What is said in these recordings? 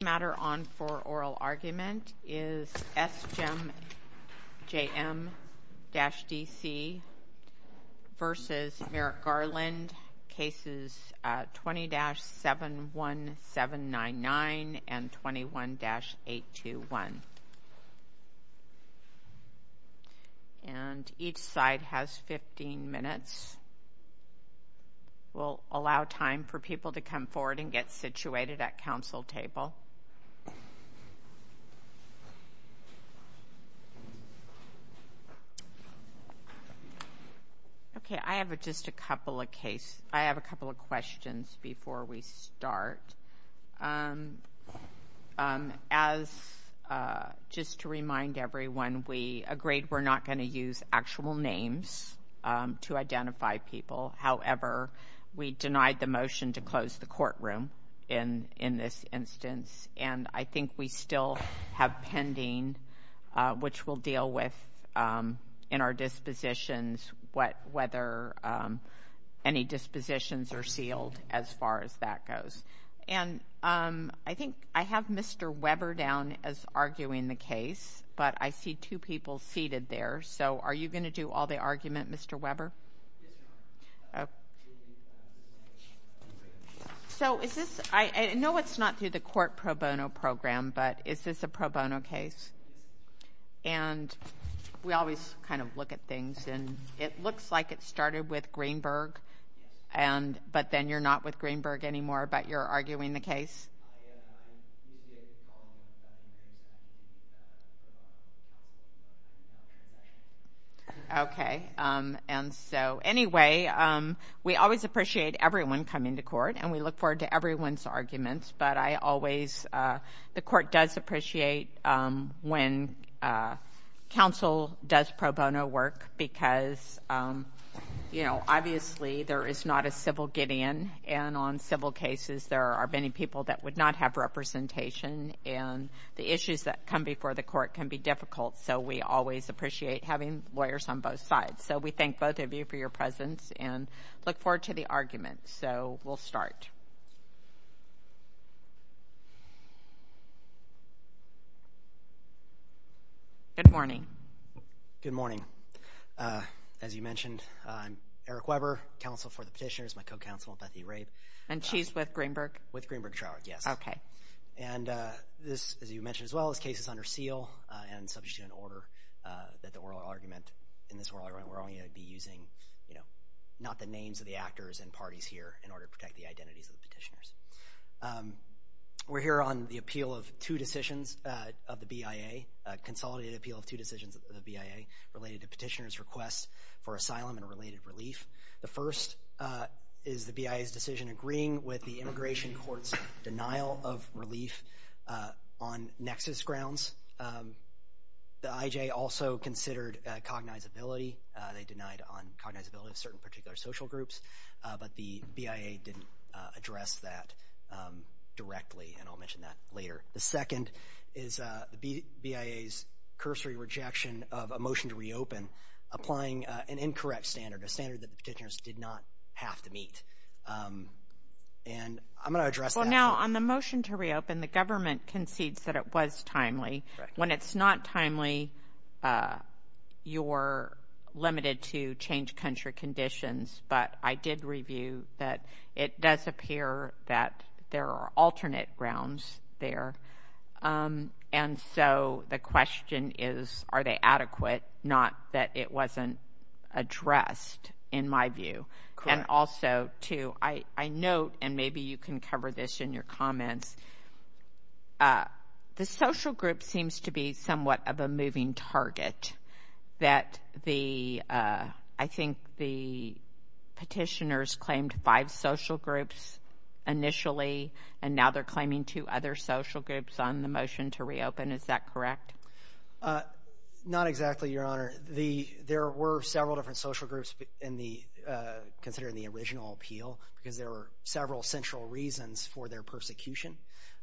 The matter on for oral argument is S. J. M.-D.C. v. Merrick Garland, cases 20-71799 and 21-821. And each side has 15 minutes. We'll allow time for people to come forward and get situated at council table. Okay, I have just a couple of questions before we start. First, just to remind everyone, we agreed we're not going to use actual names to identify people. However, we denied the motion to close the courtroom in this instance. And I think we still have pending, which we'll deal with in our dispositions, whether any dispositions are sealed as far as that goes. And I think I have Mr. Weber down as arguing the case, but I see two people seated there. So are you going to do all the argument, Mr. Weber? I know it's not through the court pro bono program, but is this a pro bono case? And we always kind of look at things, and it looks like it started with Greenberg, but then you're not with Greenberg anymore, but you're arguing the case? I am. Okay. And so, anyway, we always appreciate everyone coming to court, and we look forward to everyone's arguments. But I always – the court does appreciate when council does pro bono work because, you know, obviously there is not a civil get-in. And on civil cases, there are many people that would not have representation, and the issues that come before the court can be difficult. So we always appreciate having lawyers on both sides. So we thank both of you for your presence and look forward to the arguments. So we'll start. Good morning. Good morning. As you mentioned, I'm Eric Weber, counsel for the petitioners, my co-counsel, Bethy Rabe. And she's with Greenberg? With Greenberg Troward, yes. Okay. And this, as you mentioned as well, this case is under seal and subject to an order that the oral argument – in this oral argument, we're only going to be using, you know, not the names of the actors and parties here in order to protect the identities of the petitioners. We're here on the appeal of two decisions of the BIA, a consolidated appeal of two decisions of the BIA related to petitioners' requests for asylum and related relief. The first is the BIA's decision agreeing with the immigration court's denial of relief on nexus grounds. The IJ also considered cognizability. They denied on cognizability of certain particular social groups, but the BIA didn't address that directly, and I'll mention that later. The second is the BIA's cursory rejection of a motion to reopen, applying an incorrect standard, a standard the petitioners did not have to meet. And I'm going to address that. Well, now, on the motion to reopen, the government concedes that it was timely. Correct. When it's not timely, you're limited to change country conditions, but I did review that it does appear that there are alternate grounds there. And so the question is, are they adequate? Not that it wasn't addressed, in my view. Correct. And also, too, I note, and maybe you can cover this in your comments, the social group seems to be somewhat of a moving target, that I think the petitioners claimed five social groups initially, and now they're claiming two other social groups on the motion to reopen. Is that correct? Not exactly, Your Honor. There were several different social groups considered in the original appeal because there were several central reasons for their persecution,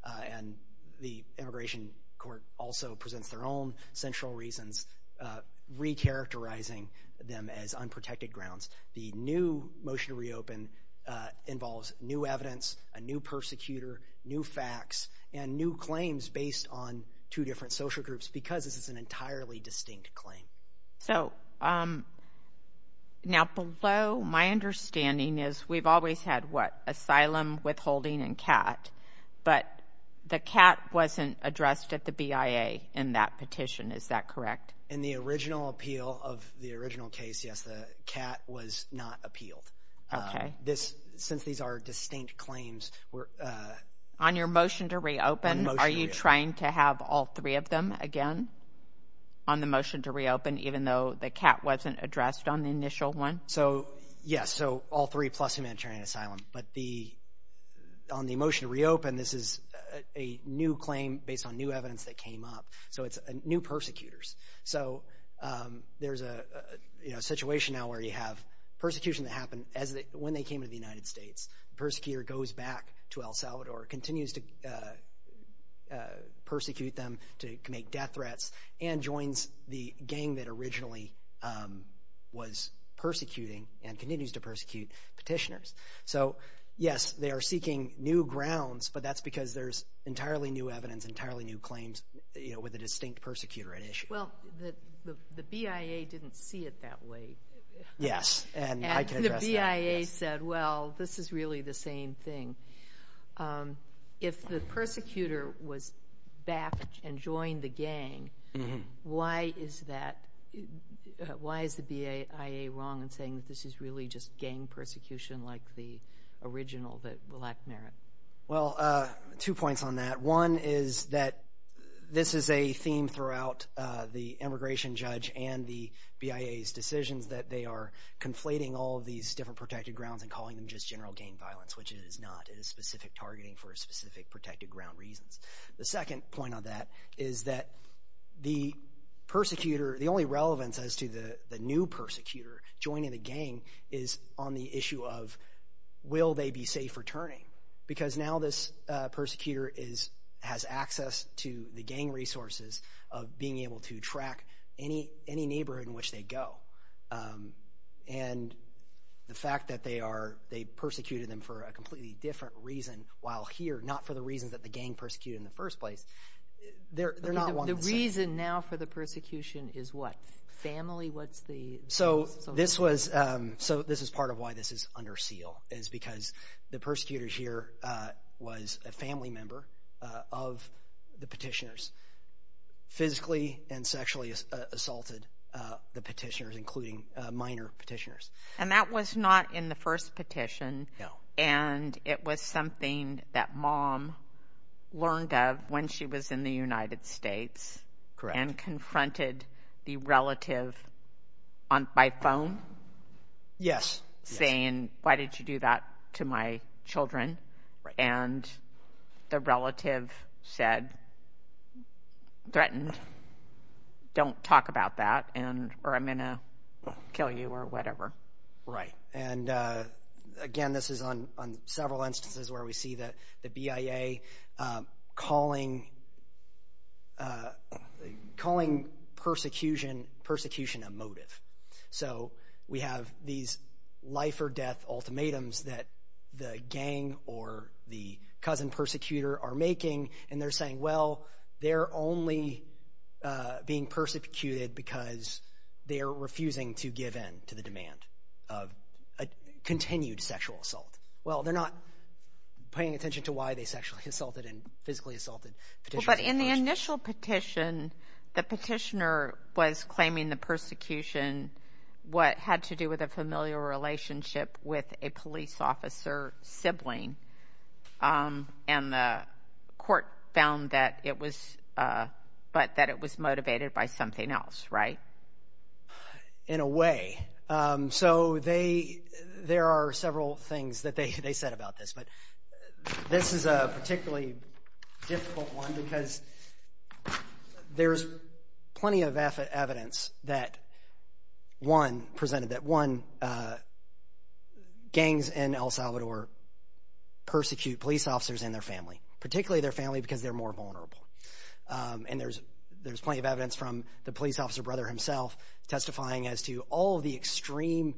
and the Immigration Court also presents their own central reasons, recharacterizing them as unprotected grounds. The new motion to reopen involves new evidence, a new persecutor, new facts, and new claims based on two different social groups because this is an entirely distinct claim. So now below, my understanding is we've always had, what, asylum, withholding, and CAT, but the CAT wasn't addressed at the BIA in that petition. Is that correct? In the original appeal of the original case, yes, the CAT was not appealed. Okay. Since these are distinct claims. On your motion to reopen, are you trying to have all three of them again on the motion to reopen, even though the CAT wasn't addressed on the initial one? So, yes, so all three plus humanitarian asylum, but on the motion to reopen, this is a new claim based on new evidence that came up, so it's new persecutors. So there's a situation now where you have persecution that happened when they came to the United States. The persecutor goes back to El Salvador, continues to persecute them to make death threats, and joins the gang that originally was persecuting and continues to persecute petitioners. So, yes, they are seeking new grounds, but that's because there's entirely new evidence, entirely new claims with a distinct persecutor at issue. Well, the BIA didn't see it that way. Yes, and I can address that. The BIA said, well, this is really the same thing. If the persecutor was back and joined the gang, why is that? Why is the BIA wrong in saying that this is really just gang persecution like the original that lacked merit? Well, two points on that. One is that this is a theme throughout the immigration judge and the BIA's decisions, that they are conflating all of these different protected grounds and calling them just general gang violence, which it is not. It is specific targeting for specific protected ground reasons. The second point on that is that the persecutor, the only relevance as to the new persecutor joining the gang is on the issue of will they be safe returning, because now this persecutor has access to the gang resources of being able to track any neighborhood in which they go. And the fact that they persecuted them for a completely different reason while here, not for the reasons that the gang persecuted in the first place, they're not one of the same. The reason now for the persecution is what? Family? So this is part of why this is under seal, is because the persecutor here was a family member of the petitioners, physically and sexually assaulted the petitioners, including minor petitioners. And that was not in the first petition? No. And it was something that mom learned of when she was in the United States? Correct. And confronted the relative by phone? Yes. Saying, why did you do that to my children? And the relative said, threatened, don't talk about that or I'm going to kill you or whatever. Right. And again, this is on several instances where we see the BIA calling persecution a motive. So we have these life or death ultimatums that the gang or the cousin persecutor are making, and they're saying, well, they're only being persecuted because they're refusing to give in to the demand of a continued sexual assault. Well, they're not paying attention to why they sexually assaulted and physically assaulted petitioners. But in the initial petition, the petitioner was claiming the persecution, what had to do with a familial relationship with a police officer sibling, and the court found that it was motivated by something else, right? In a way. So there are several things that they said about this, but this is a particularly difficult one because there's plenty of evidence that, one, presented that, one, gangs in El Salvador persecute police officers and their family, particularly their family because they're more vulnerable. And there's plenty of evidence from the police officer brother himself testifying as to all of the extreme,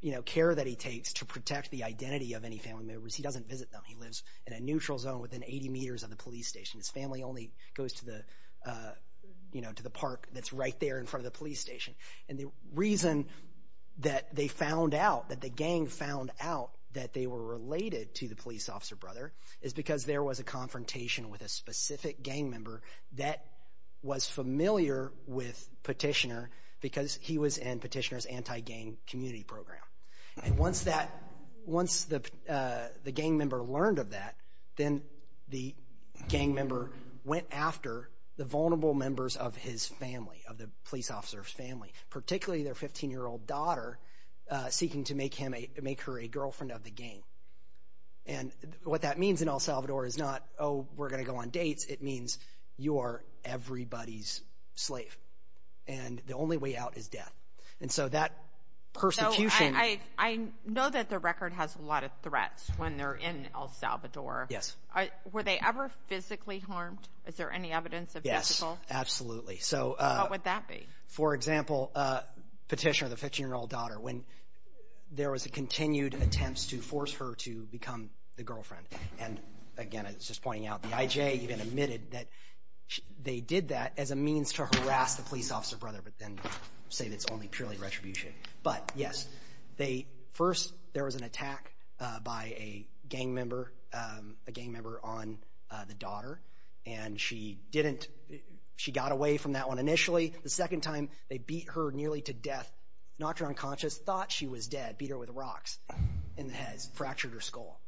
you know, care that he takes to protect the identity of any family members. He doesn't visit them. He lives in a neutral zone within 80 meters of the police station. His family only goes to the, you know, to the park that's right there in front of the police station. And the reason that they found out, that the gang found out that they were related to the police officer brother is because there was a confrontation with a specific gang member that was familiar with Petitioner because he was in Petitioner's anti-gang community program. And once the gang member learned of that, then the gang member went after the vulnerable members of his family, of the police officer's family, particularly their 15-year-old daughter, seeking to make her a girlfriend of the gang. And what that means in El Salvador is not, oh, we're going to go on dates. It means you are everybody's slave. And the only way out is death. And so that persecution. So I know that the record has a lot of threats when they're in El Salvador. Yes. Were they ever physically harmed? Is there any evidence of physical? Yes, absolutely. So. What would that be? For example, Petitioner, the 15-year-old daughter, when there was a continued attempt to force her to become the girlfriend. And, again, I was just pointing out, the IJ even admitted that they did that as a means to harass the police officer brother, but then say it's only purely retribution. But, yes, first there was an attack by a gang member on the daughter. And she got away from that one initially. The second time they beat her nearly to death, knocked her unconscious, thought she was dead, beat her with rocks in the head, fractured her skull.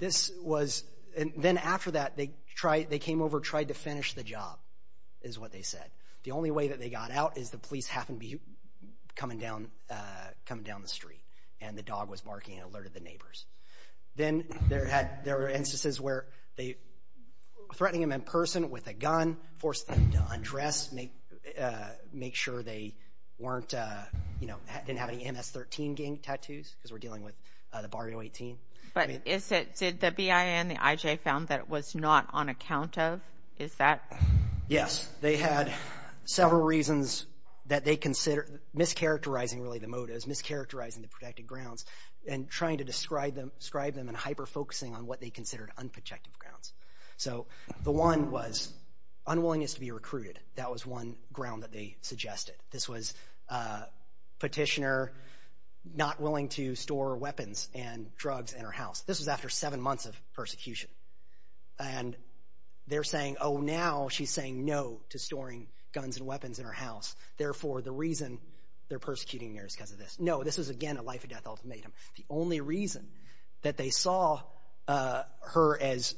Then after that, they came over, tried to finish the job, is what they said. The only way that they got out is the police happened to be coming down the street. And the dog was barking and alerted the neighbors. Then there were instances where they were threatening them in person with a gun, forced them to undress, make sure they didn't have any MS-13 gang tattoos because we're dealing with the Barrio 18. But did the BIA and the IJ found that it was not on account of? Is that? Yes. They had several reasons that they considered, mischaracterizing really the motives, mischaracterizing the protected grounds, and trying to describe them and hyper-focusing on what they considered unprotected grounds. So the one was unwillingness to be recruited. That was one ground that they suggested. This was petitioner not willing to store weapons and drugs in her house. This was after seven months of persecution. And they're saying, oh, now she's saying no to storing guns and weapons in her house. Therefore, the reason they're persecuting her is because of this. No, this was, again, a life-or-death ultimatum. The only reason that they saw her as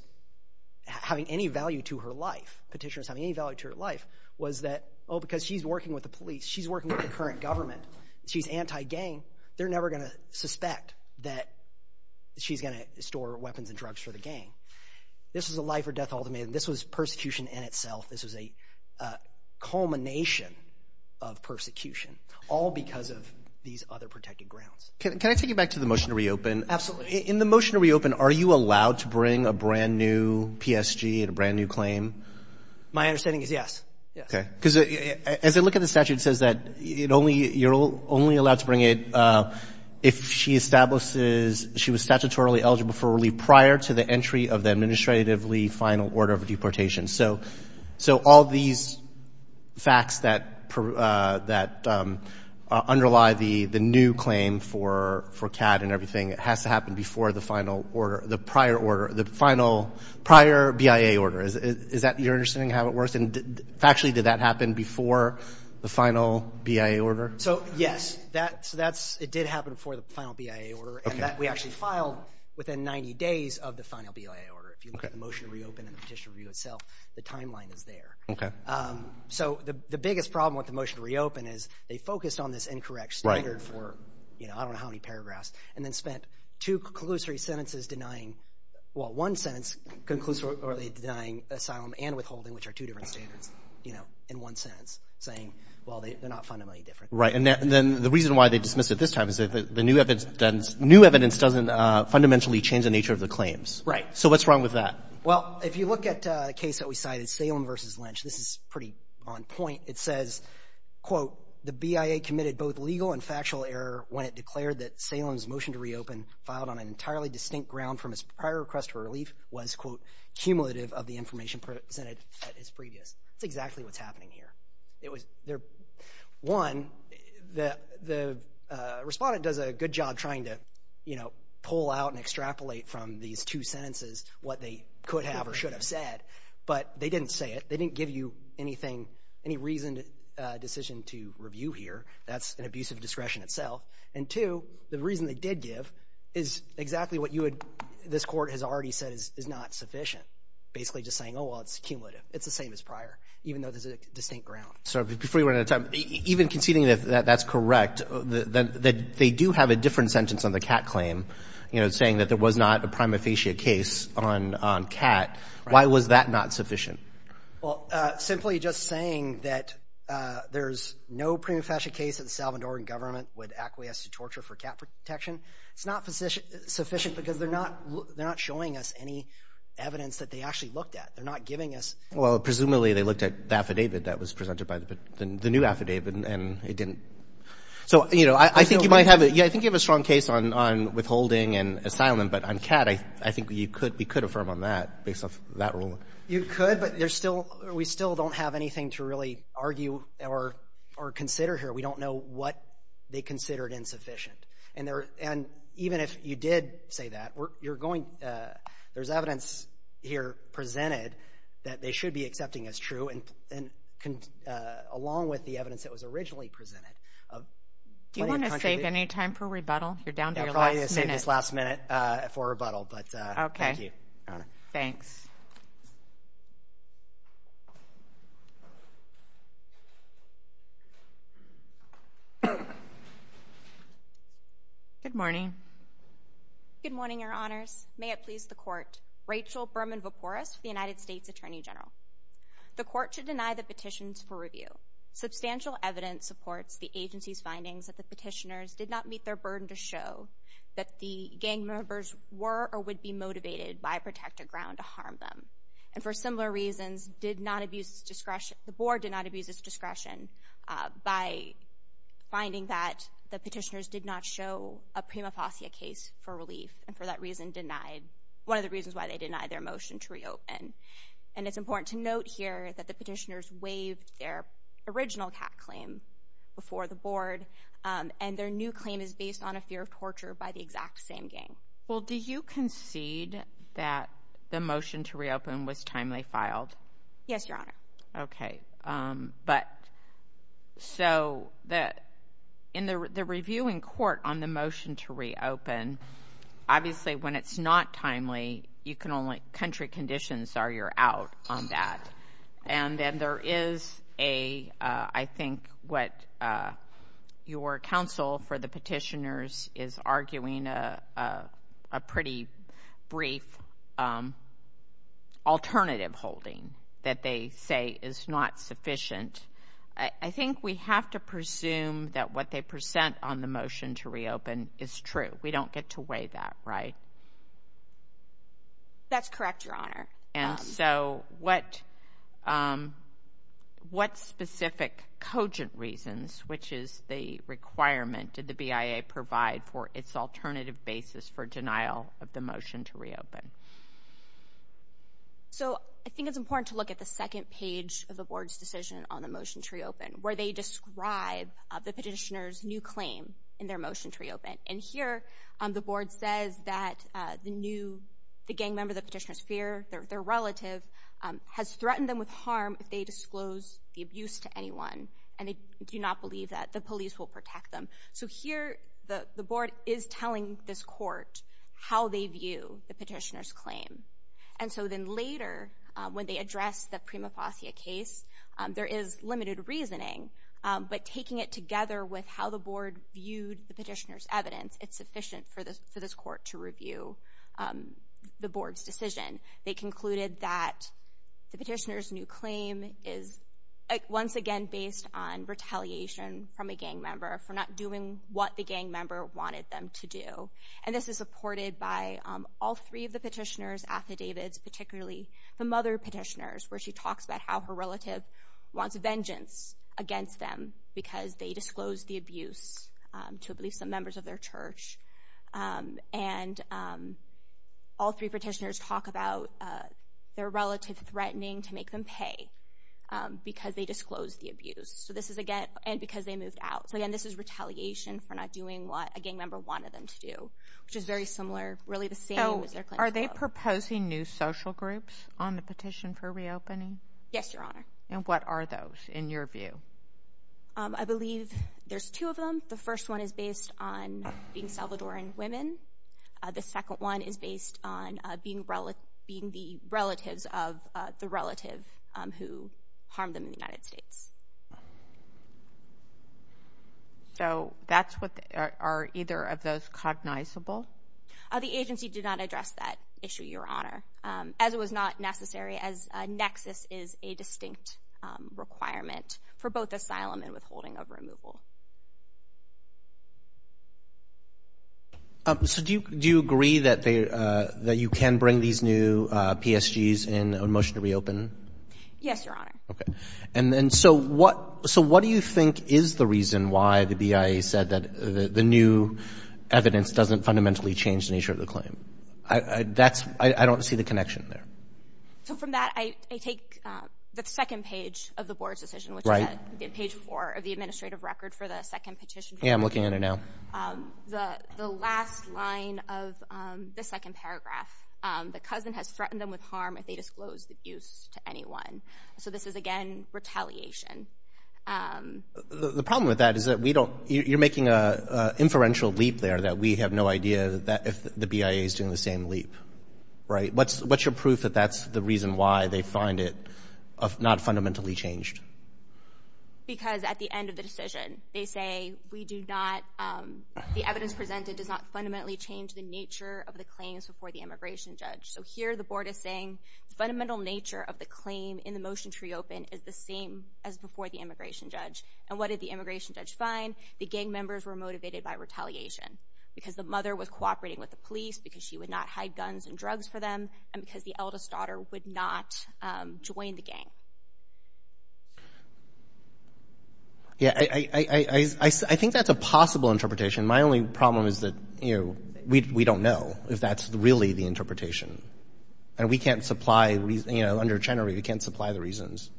having any value to her life, petitioners having any value to her life, was that, oh, because she's working with the police. She's working with the current government. She's anti-gang. They're never going to suspect that she's going to store weapons and drugs for the gang. This was a life-or-death ultimatum. This was persecution in itself. This was a culmination of persecution, all because of these other protected grounds. Can I take you back to the motion to reopen? Absolutely. In the motion to reopen, are you allowed to bring a brand-new PSG and a brand-new claim? My understanding is yes. Okay. Because as I look at the statute, it says that you're only allowed to bring it if she establishes she was statutorily eligible for relief prior to the entry of the administratively final order of deportation. So all these facts that underlie the new claim for CAD and everything, it has to happen before the final order, the prior order, the prior BIA order. Is that your understanding of how it works? And factually, did that happen before the final BIA order? So, yes. It did happen before the final BIA order, and that we actually filed within 90 days of the final BIA order. If you look at the motion to reopen and the petition review itself, the timeline is there. Okay. So the biggest problem with the motion to reopen is they focused on this incorrect standard for, you know, I don't know how many paragraphs, and then spent two conclusory sentences denying, well, one sentence conclusively denying asylum and withholding, which are two different standards, you know, in one sentence, saying, well, they're not fundamentally different. Right. And then the reason why they dismissed it this time is the new evidence doesn't fundamentally change the nature of the claims. Right. So what's wrong with that? Well, if you look at a case that we cited, Salem v. Lynch, this is pretty on point. It says, quote, the BIA committed both legal and factual error when it declared that Salem's motion to reopen, filed on an entirely distinct ground from his prior request for relief, was, quote, cumulative of the information presented at his previous. That's exactly what's happening here. One, the respondent does a good job trying to, you know, pull out and extrapolate from these two sentences what they could have or should have said. But they didn't say it. They didn't give you anything, any reasoned decision to review here. That's an abuse of discretion itself. And, two, the reason they did give is exactly what this court has already said is not sufficient, basically just saying, oh, well, it's cumulative. It's the same as prior, even though there's a distinct ground. So before you run out of time, even conceding that that's correct, that they do have a different sentence on the Cat claim, you know, saying that there was not a prima facie case on Cat, why was that not sufficient? Well, simply just saying that there's no prima facie case that the Salvadoran government would acquiesce to torture for Cat protection, it's not sufficient because they're not showing us any evidence that they actually looked at. They're not giving us. Well, presumably they looked at the affidavit that was presented by the new affidavit, and it didn't. So, you know, I think you might have it. Yeah, I think you have a strong case on withholding and asylum. But on Cat, I think you could affirm on that, based off that ruling. You could, but there's still we still don't have anything to really argue or consider here. We don't know what they considered insufficient. And even if you did say that, there's evidence here presented that they should be accepting as true, along with the evidence that was originally presented. Do you want to save any time for rebuttal? You're down to your last minute. I'll probably save this last minute for rebuttal, but thank you. Okay. Thanks. Good morning. Good morning, Your Honors. May it please the Court. Rachel Berman-Voporos with the United States Attorney General. The Court should deny the petitions for review. Substantial evidence supports the agency's findings that the petitioners did not meet their burden to show that the gang members were or would be motivated by protected ground to harm them, and for similar reasons did not abuse discretion. The Board did not abuse its discretion by finding that the petitioners did not show a prima facie case for relief, and for that reason denied, one of the reasons why they denied their motion to reopen. And it's important to note here that the petitioners waived their original CAT claim before the Board, and their new claim is based on a fear of torture by the exact same gang. Well, do you concede that the motion to reopen was timely filed? Yes, Your Honor. Okay. But so in the review in court on the motion to reopen, obviously when it's not timely, you can only country conditions are you're out on that. And then there is a, I think what your counsel for the petitioners is arguing, a pretty brief alternative holding that they say is not sufficient. I think we have to presume that what they present on the motion to reopen is true. We don't get to weigh that, right? That's correct, Your Honor. And so what specific cogent reasons, which is the requirement, did the BIA provide for its alternative basis for denial of the motion to reopen? So I think it's important to look at the second page of the Board's decision on the motion to reopen, where they describe the petitioners' new claim in their motion to reopen. And here the Board says that the new, the gang member, the petitioner's fear, their relative, has threatened them with harm if they disclose the abuse to anyone, and they do not believe that the police will protect them. So here the Board is telling this court how they view the petitioner's claim. And so then later when they address the Prima Fauscia case, there is limited reasoning, but taking it together with how the Board viewed the petitioner's evidence, it's sufficient for this court to review the Board's decision. They concluded that the petitioner's new claim is once again based on retaliation from a gang member for not doing what the gang member wanted them to do. And this is supported by all three of the petitioner's affidavits, particularly the mother petitioner's, where she talks about how her relative wants vengeance against them because they disclosed the abuse to, I believe, some members of their church. And all three petitioners talk about their relative threatening to make them pay because they disclosed the abuse, and because they moved out. So again, this is retaliation for not doing what a gang member wanted them to do, which is very similar, really the same as their claim. Are they proposing new social groups on the petition for reopening? Yes, Your Honor. And what are those, in your view? I believe there's two of them. The first one is based on being Salvadoran women. The second one is based on being the relatives of the relative who harmed them in the United States. So that's what, are either of those cognizable? The agency did not address that issue, Your Honor, as it was not necessary, as a nexus is a distinct requirement for both asylum and withholding of removal. So do you agree that you can bring these new PSGs in a motion to reopen? Yes, Your Honor. Okay. So what do you think is the reason why the BIA said that the new evidence doesn't fundamentally change the nature of the claim? I don't see the connection there. So from that, I take the second page of the Board's decision, which is at page four of the administrative record for the second petition. Yeah, I'm looking at it now. The last line of the second paragraph, the cousin has threatened them with harm if they disclose the abuse to anyone. So this is, again, retaliation. The problem with that is that you're making an inferential leap there, that we have no idea if the BIA is doing the same leap, right? What's your proof that that's the reason why they find it not fundamentally changed? Because at the end of the decision, they say we do not, the evidence presented does not fundamentally change the nature of the claims before the immigration judge. So here the Board is saying the fundamental nature of the claim in the motion to reopen is the same as before the immigration judge. And what did the immigration judge find? The gang members were motivated by retaliation because the mother was cooperating with the police, because she would not hide guns and drugs for them, and because the eldest daughter would not join the gang. Yeah, I think that's a possible interpretation. My only problem is that, you know, we don't know if that's really the interpretation. And we can't supply, you know, under Chenery, we can't supply the reasons.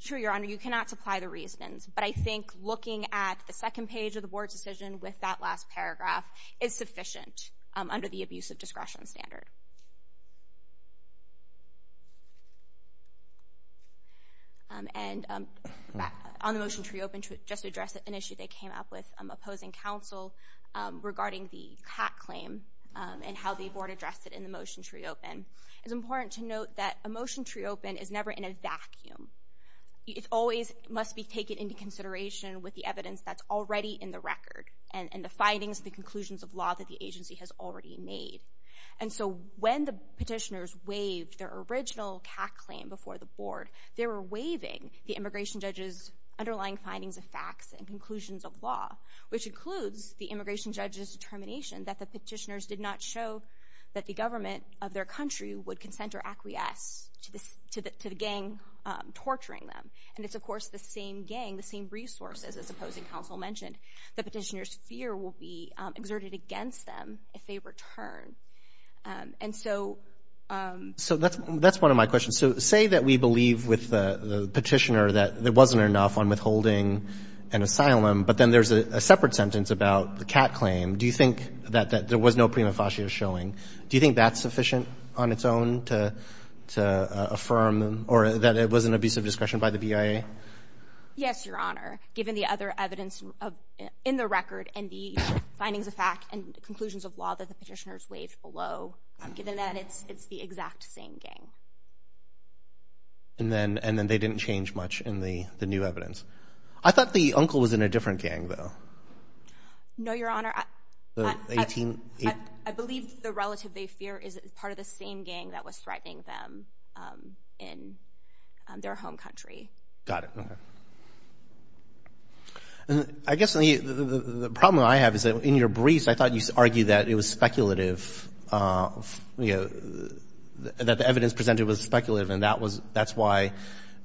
Sure, Your Honor, you cannot supply the reasons. But I think looking at the second page of the Board's decision with that last paragraph is sufficient under the abuse of discretion standard. And on the motion to reopen, just to address an issue that came up with opposing counsel regarding the cat claim and how the Board addressed it in the motion to reopen. It's important to note that a motion to reopen is never in a vacuum. It always must be taken into consideration with the evidence that's already in the record and the findings, the conclusions of law that the agency has already made. And so when the petitioners waived their original cat claim before the Board, they were waiving the immigration judge's underlying findings of facts and conclusions of law, which includes the immigration judge's determination that the petitioners did not show that the government of their country would consent or acquiesce to the gang torturing them. And it's, of course, the same gang, the same resources, as opposing counsel mentioned. The petitioners' fear will be exerted against them if they return. And so — So that's one of my questions. So say that we believe with the petitioner that there wasn't enough on withholding an asylum, but then there's a separate sentence about the cat claim. Do you think that there was no prima facie of showing? Do you think that's sufficient on its own to affirm or that it was an abuse of discretion by the BIA? Yes, Your Honor. Given the other evidence in the record and the findings of fact and conclusions of law that the petitioners waived below. Given that, it's the exact same gang. And then they didn't change much in the new evidence. I thought the uncle was in a different gang, though. No, Your Honor. The 18 — I believe the relative they fear is part of the same gang that was threatening them in their home country. Got it. Okay. I guess the problem I have is that in your briefs, I thought you argued that it was speculative, you know, that the evidence presented was speculative, and that's why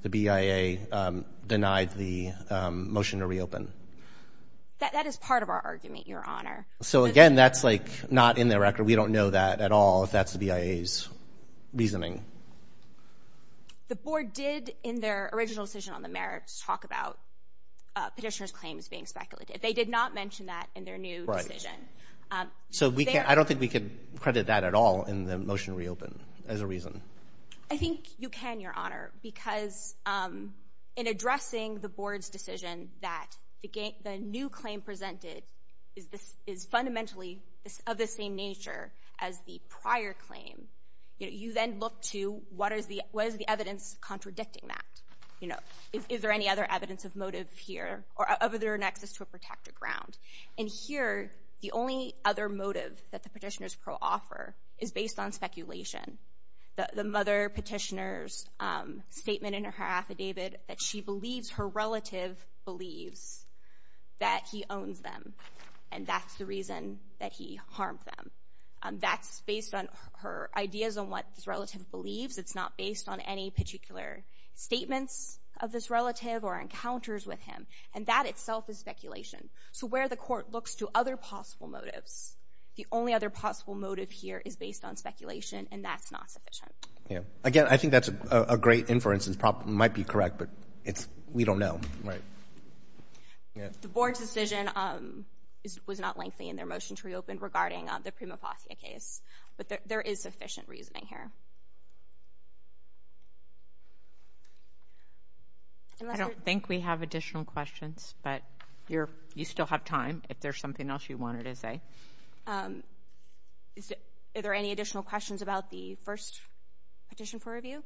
the BIA denied the motion to reopen. That is part of our argument, Your Honor. So, again, that's like not in the record. We don't know that at all if that's the BIA's reasoning. The board did, in their original decision on the merits, talk about petitioners' claims being speculative. They did not mention that in their new decision. Right. So we can't — I don't think we can credit that at all in the motion to reopen as a reason. I think you can, Your Honor, because in addressing the board's decision that the new claim presented is fundamentally of the same nature as the prior claim, you then look to what is the evidence contradicting that? You know, is there any other evidence of motive here or of their nexus to a protected ground? And here, the only other motive that the petitioners pro-offer is based on speculation. The mother petitioner's statement in her affidavit that she believes her relative believes that he owns them, and that's the reason that he harmed them. That's based on her ideas on what this relative believes. It's not based on any particular statements of this relative or encounters with him. And that itself is speculation. So where the court looks to other possible motives, the only other possible motive here is based on speculation, and that's not sufficient. Yeah. Again, I think that's a great inference. It might be correct, but we don't know. Right. The board's decision was not lengthy in their motion to reopen regarding the Prima Fauscia case, but there is sufficient reasoning here. I don't think we have additional questions, but you still have time if there's something else you wanted to say. Are there any additional questions about the first petition for review?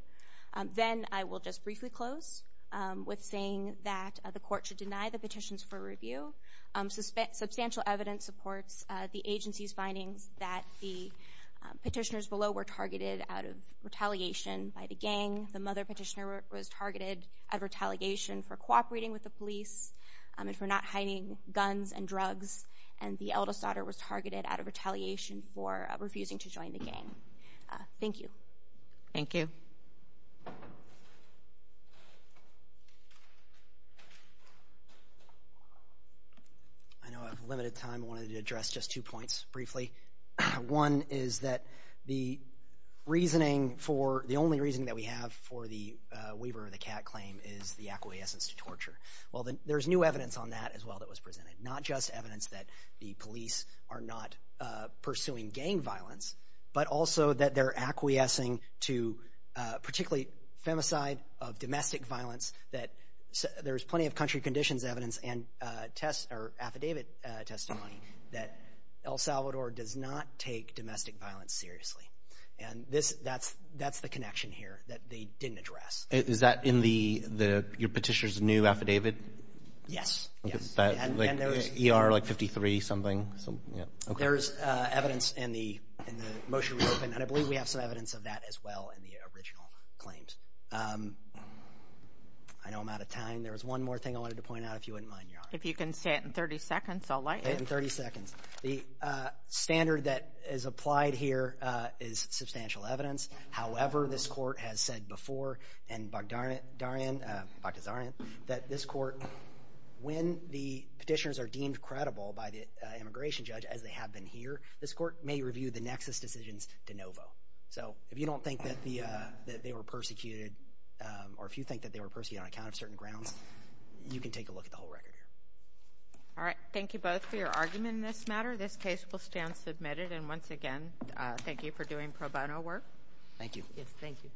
Then I will just briefly close with saying that the court should deny the petitions for review. Substantial evidence supports the agency's findings that the petitioners below were targeted out of retaliation by the gang. The mother petitioner was targeted out of retaliation for cooperating with the police and for not hiding guns and drugs, and the eldest daughter was targeted out of retaliation for refusing to join the gang. Thank you. Thank you. I know I have limited time. I wanted to address just two points briefly. One is that the reasoning for the only reason that we have for the Weaver or the Kat claim is the acquiescence to torture. Well, there's new evidence on that as well that was presented, not just evidence that the police are not pursuing gang violence, but also that they're acquiescing to particularly femicide of domestic violence. There's plenty of country conditions evidence and affidavit testimony that El Salvador does not take domestic violence seriously, and that's the connection here that they didn't address. Is that in your petitioner's new affidavit? Yes, yes. Like ER 53 something? There's evidence in the motion we opened, and I believe we have some evidence of that as well in the original claims. I know I'm out of time. There was one more thing I wanted to point out, if you wouldn't mind, Your Honor. If you can say it in 30 seconds, I'll like it. In 30 seconds. The standard that is applied here is substantial evidence. However, this court has said before, and, Dr. Zarian, that this court, when the petitioners are deemed credible by the immigration judge, as they have been here, this court may review the nexus decisions de novo. So if you don't think that they were persecuted, or if you think that they were persecuted on account of certain grounds, you can take a look at the whole record here. All right. Thank you both for your argument in this matter. This case will stand submitted. And once again, thank you for doing pro bono work. Thank you. Yes, thank you.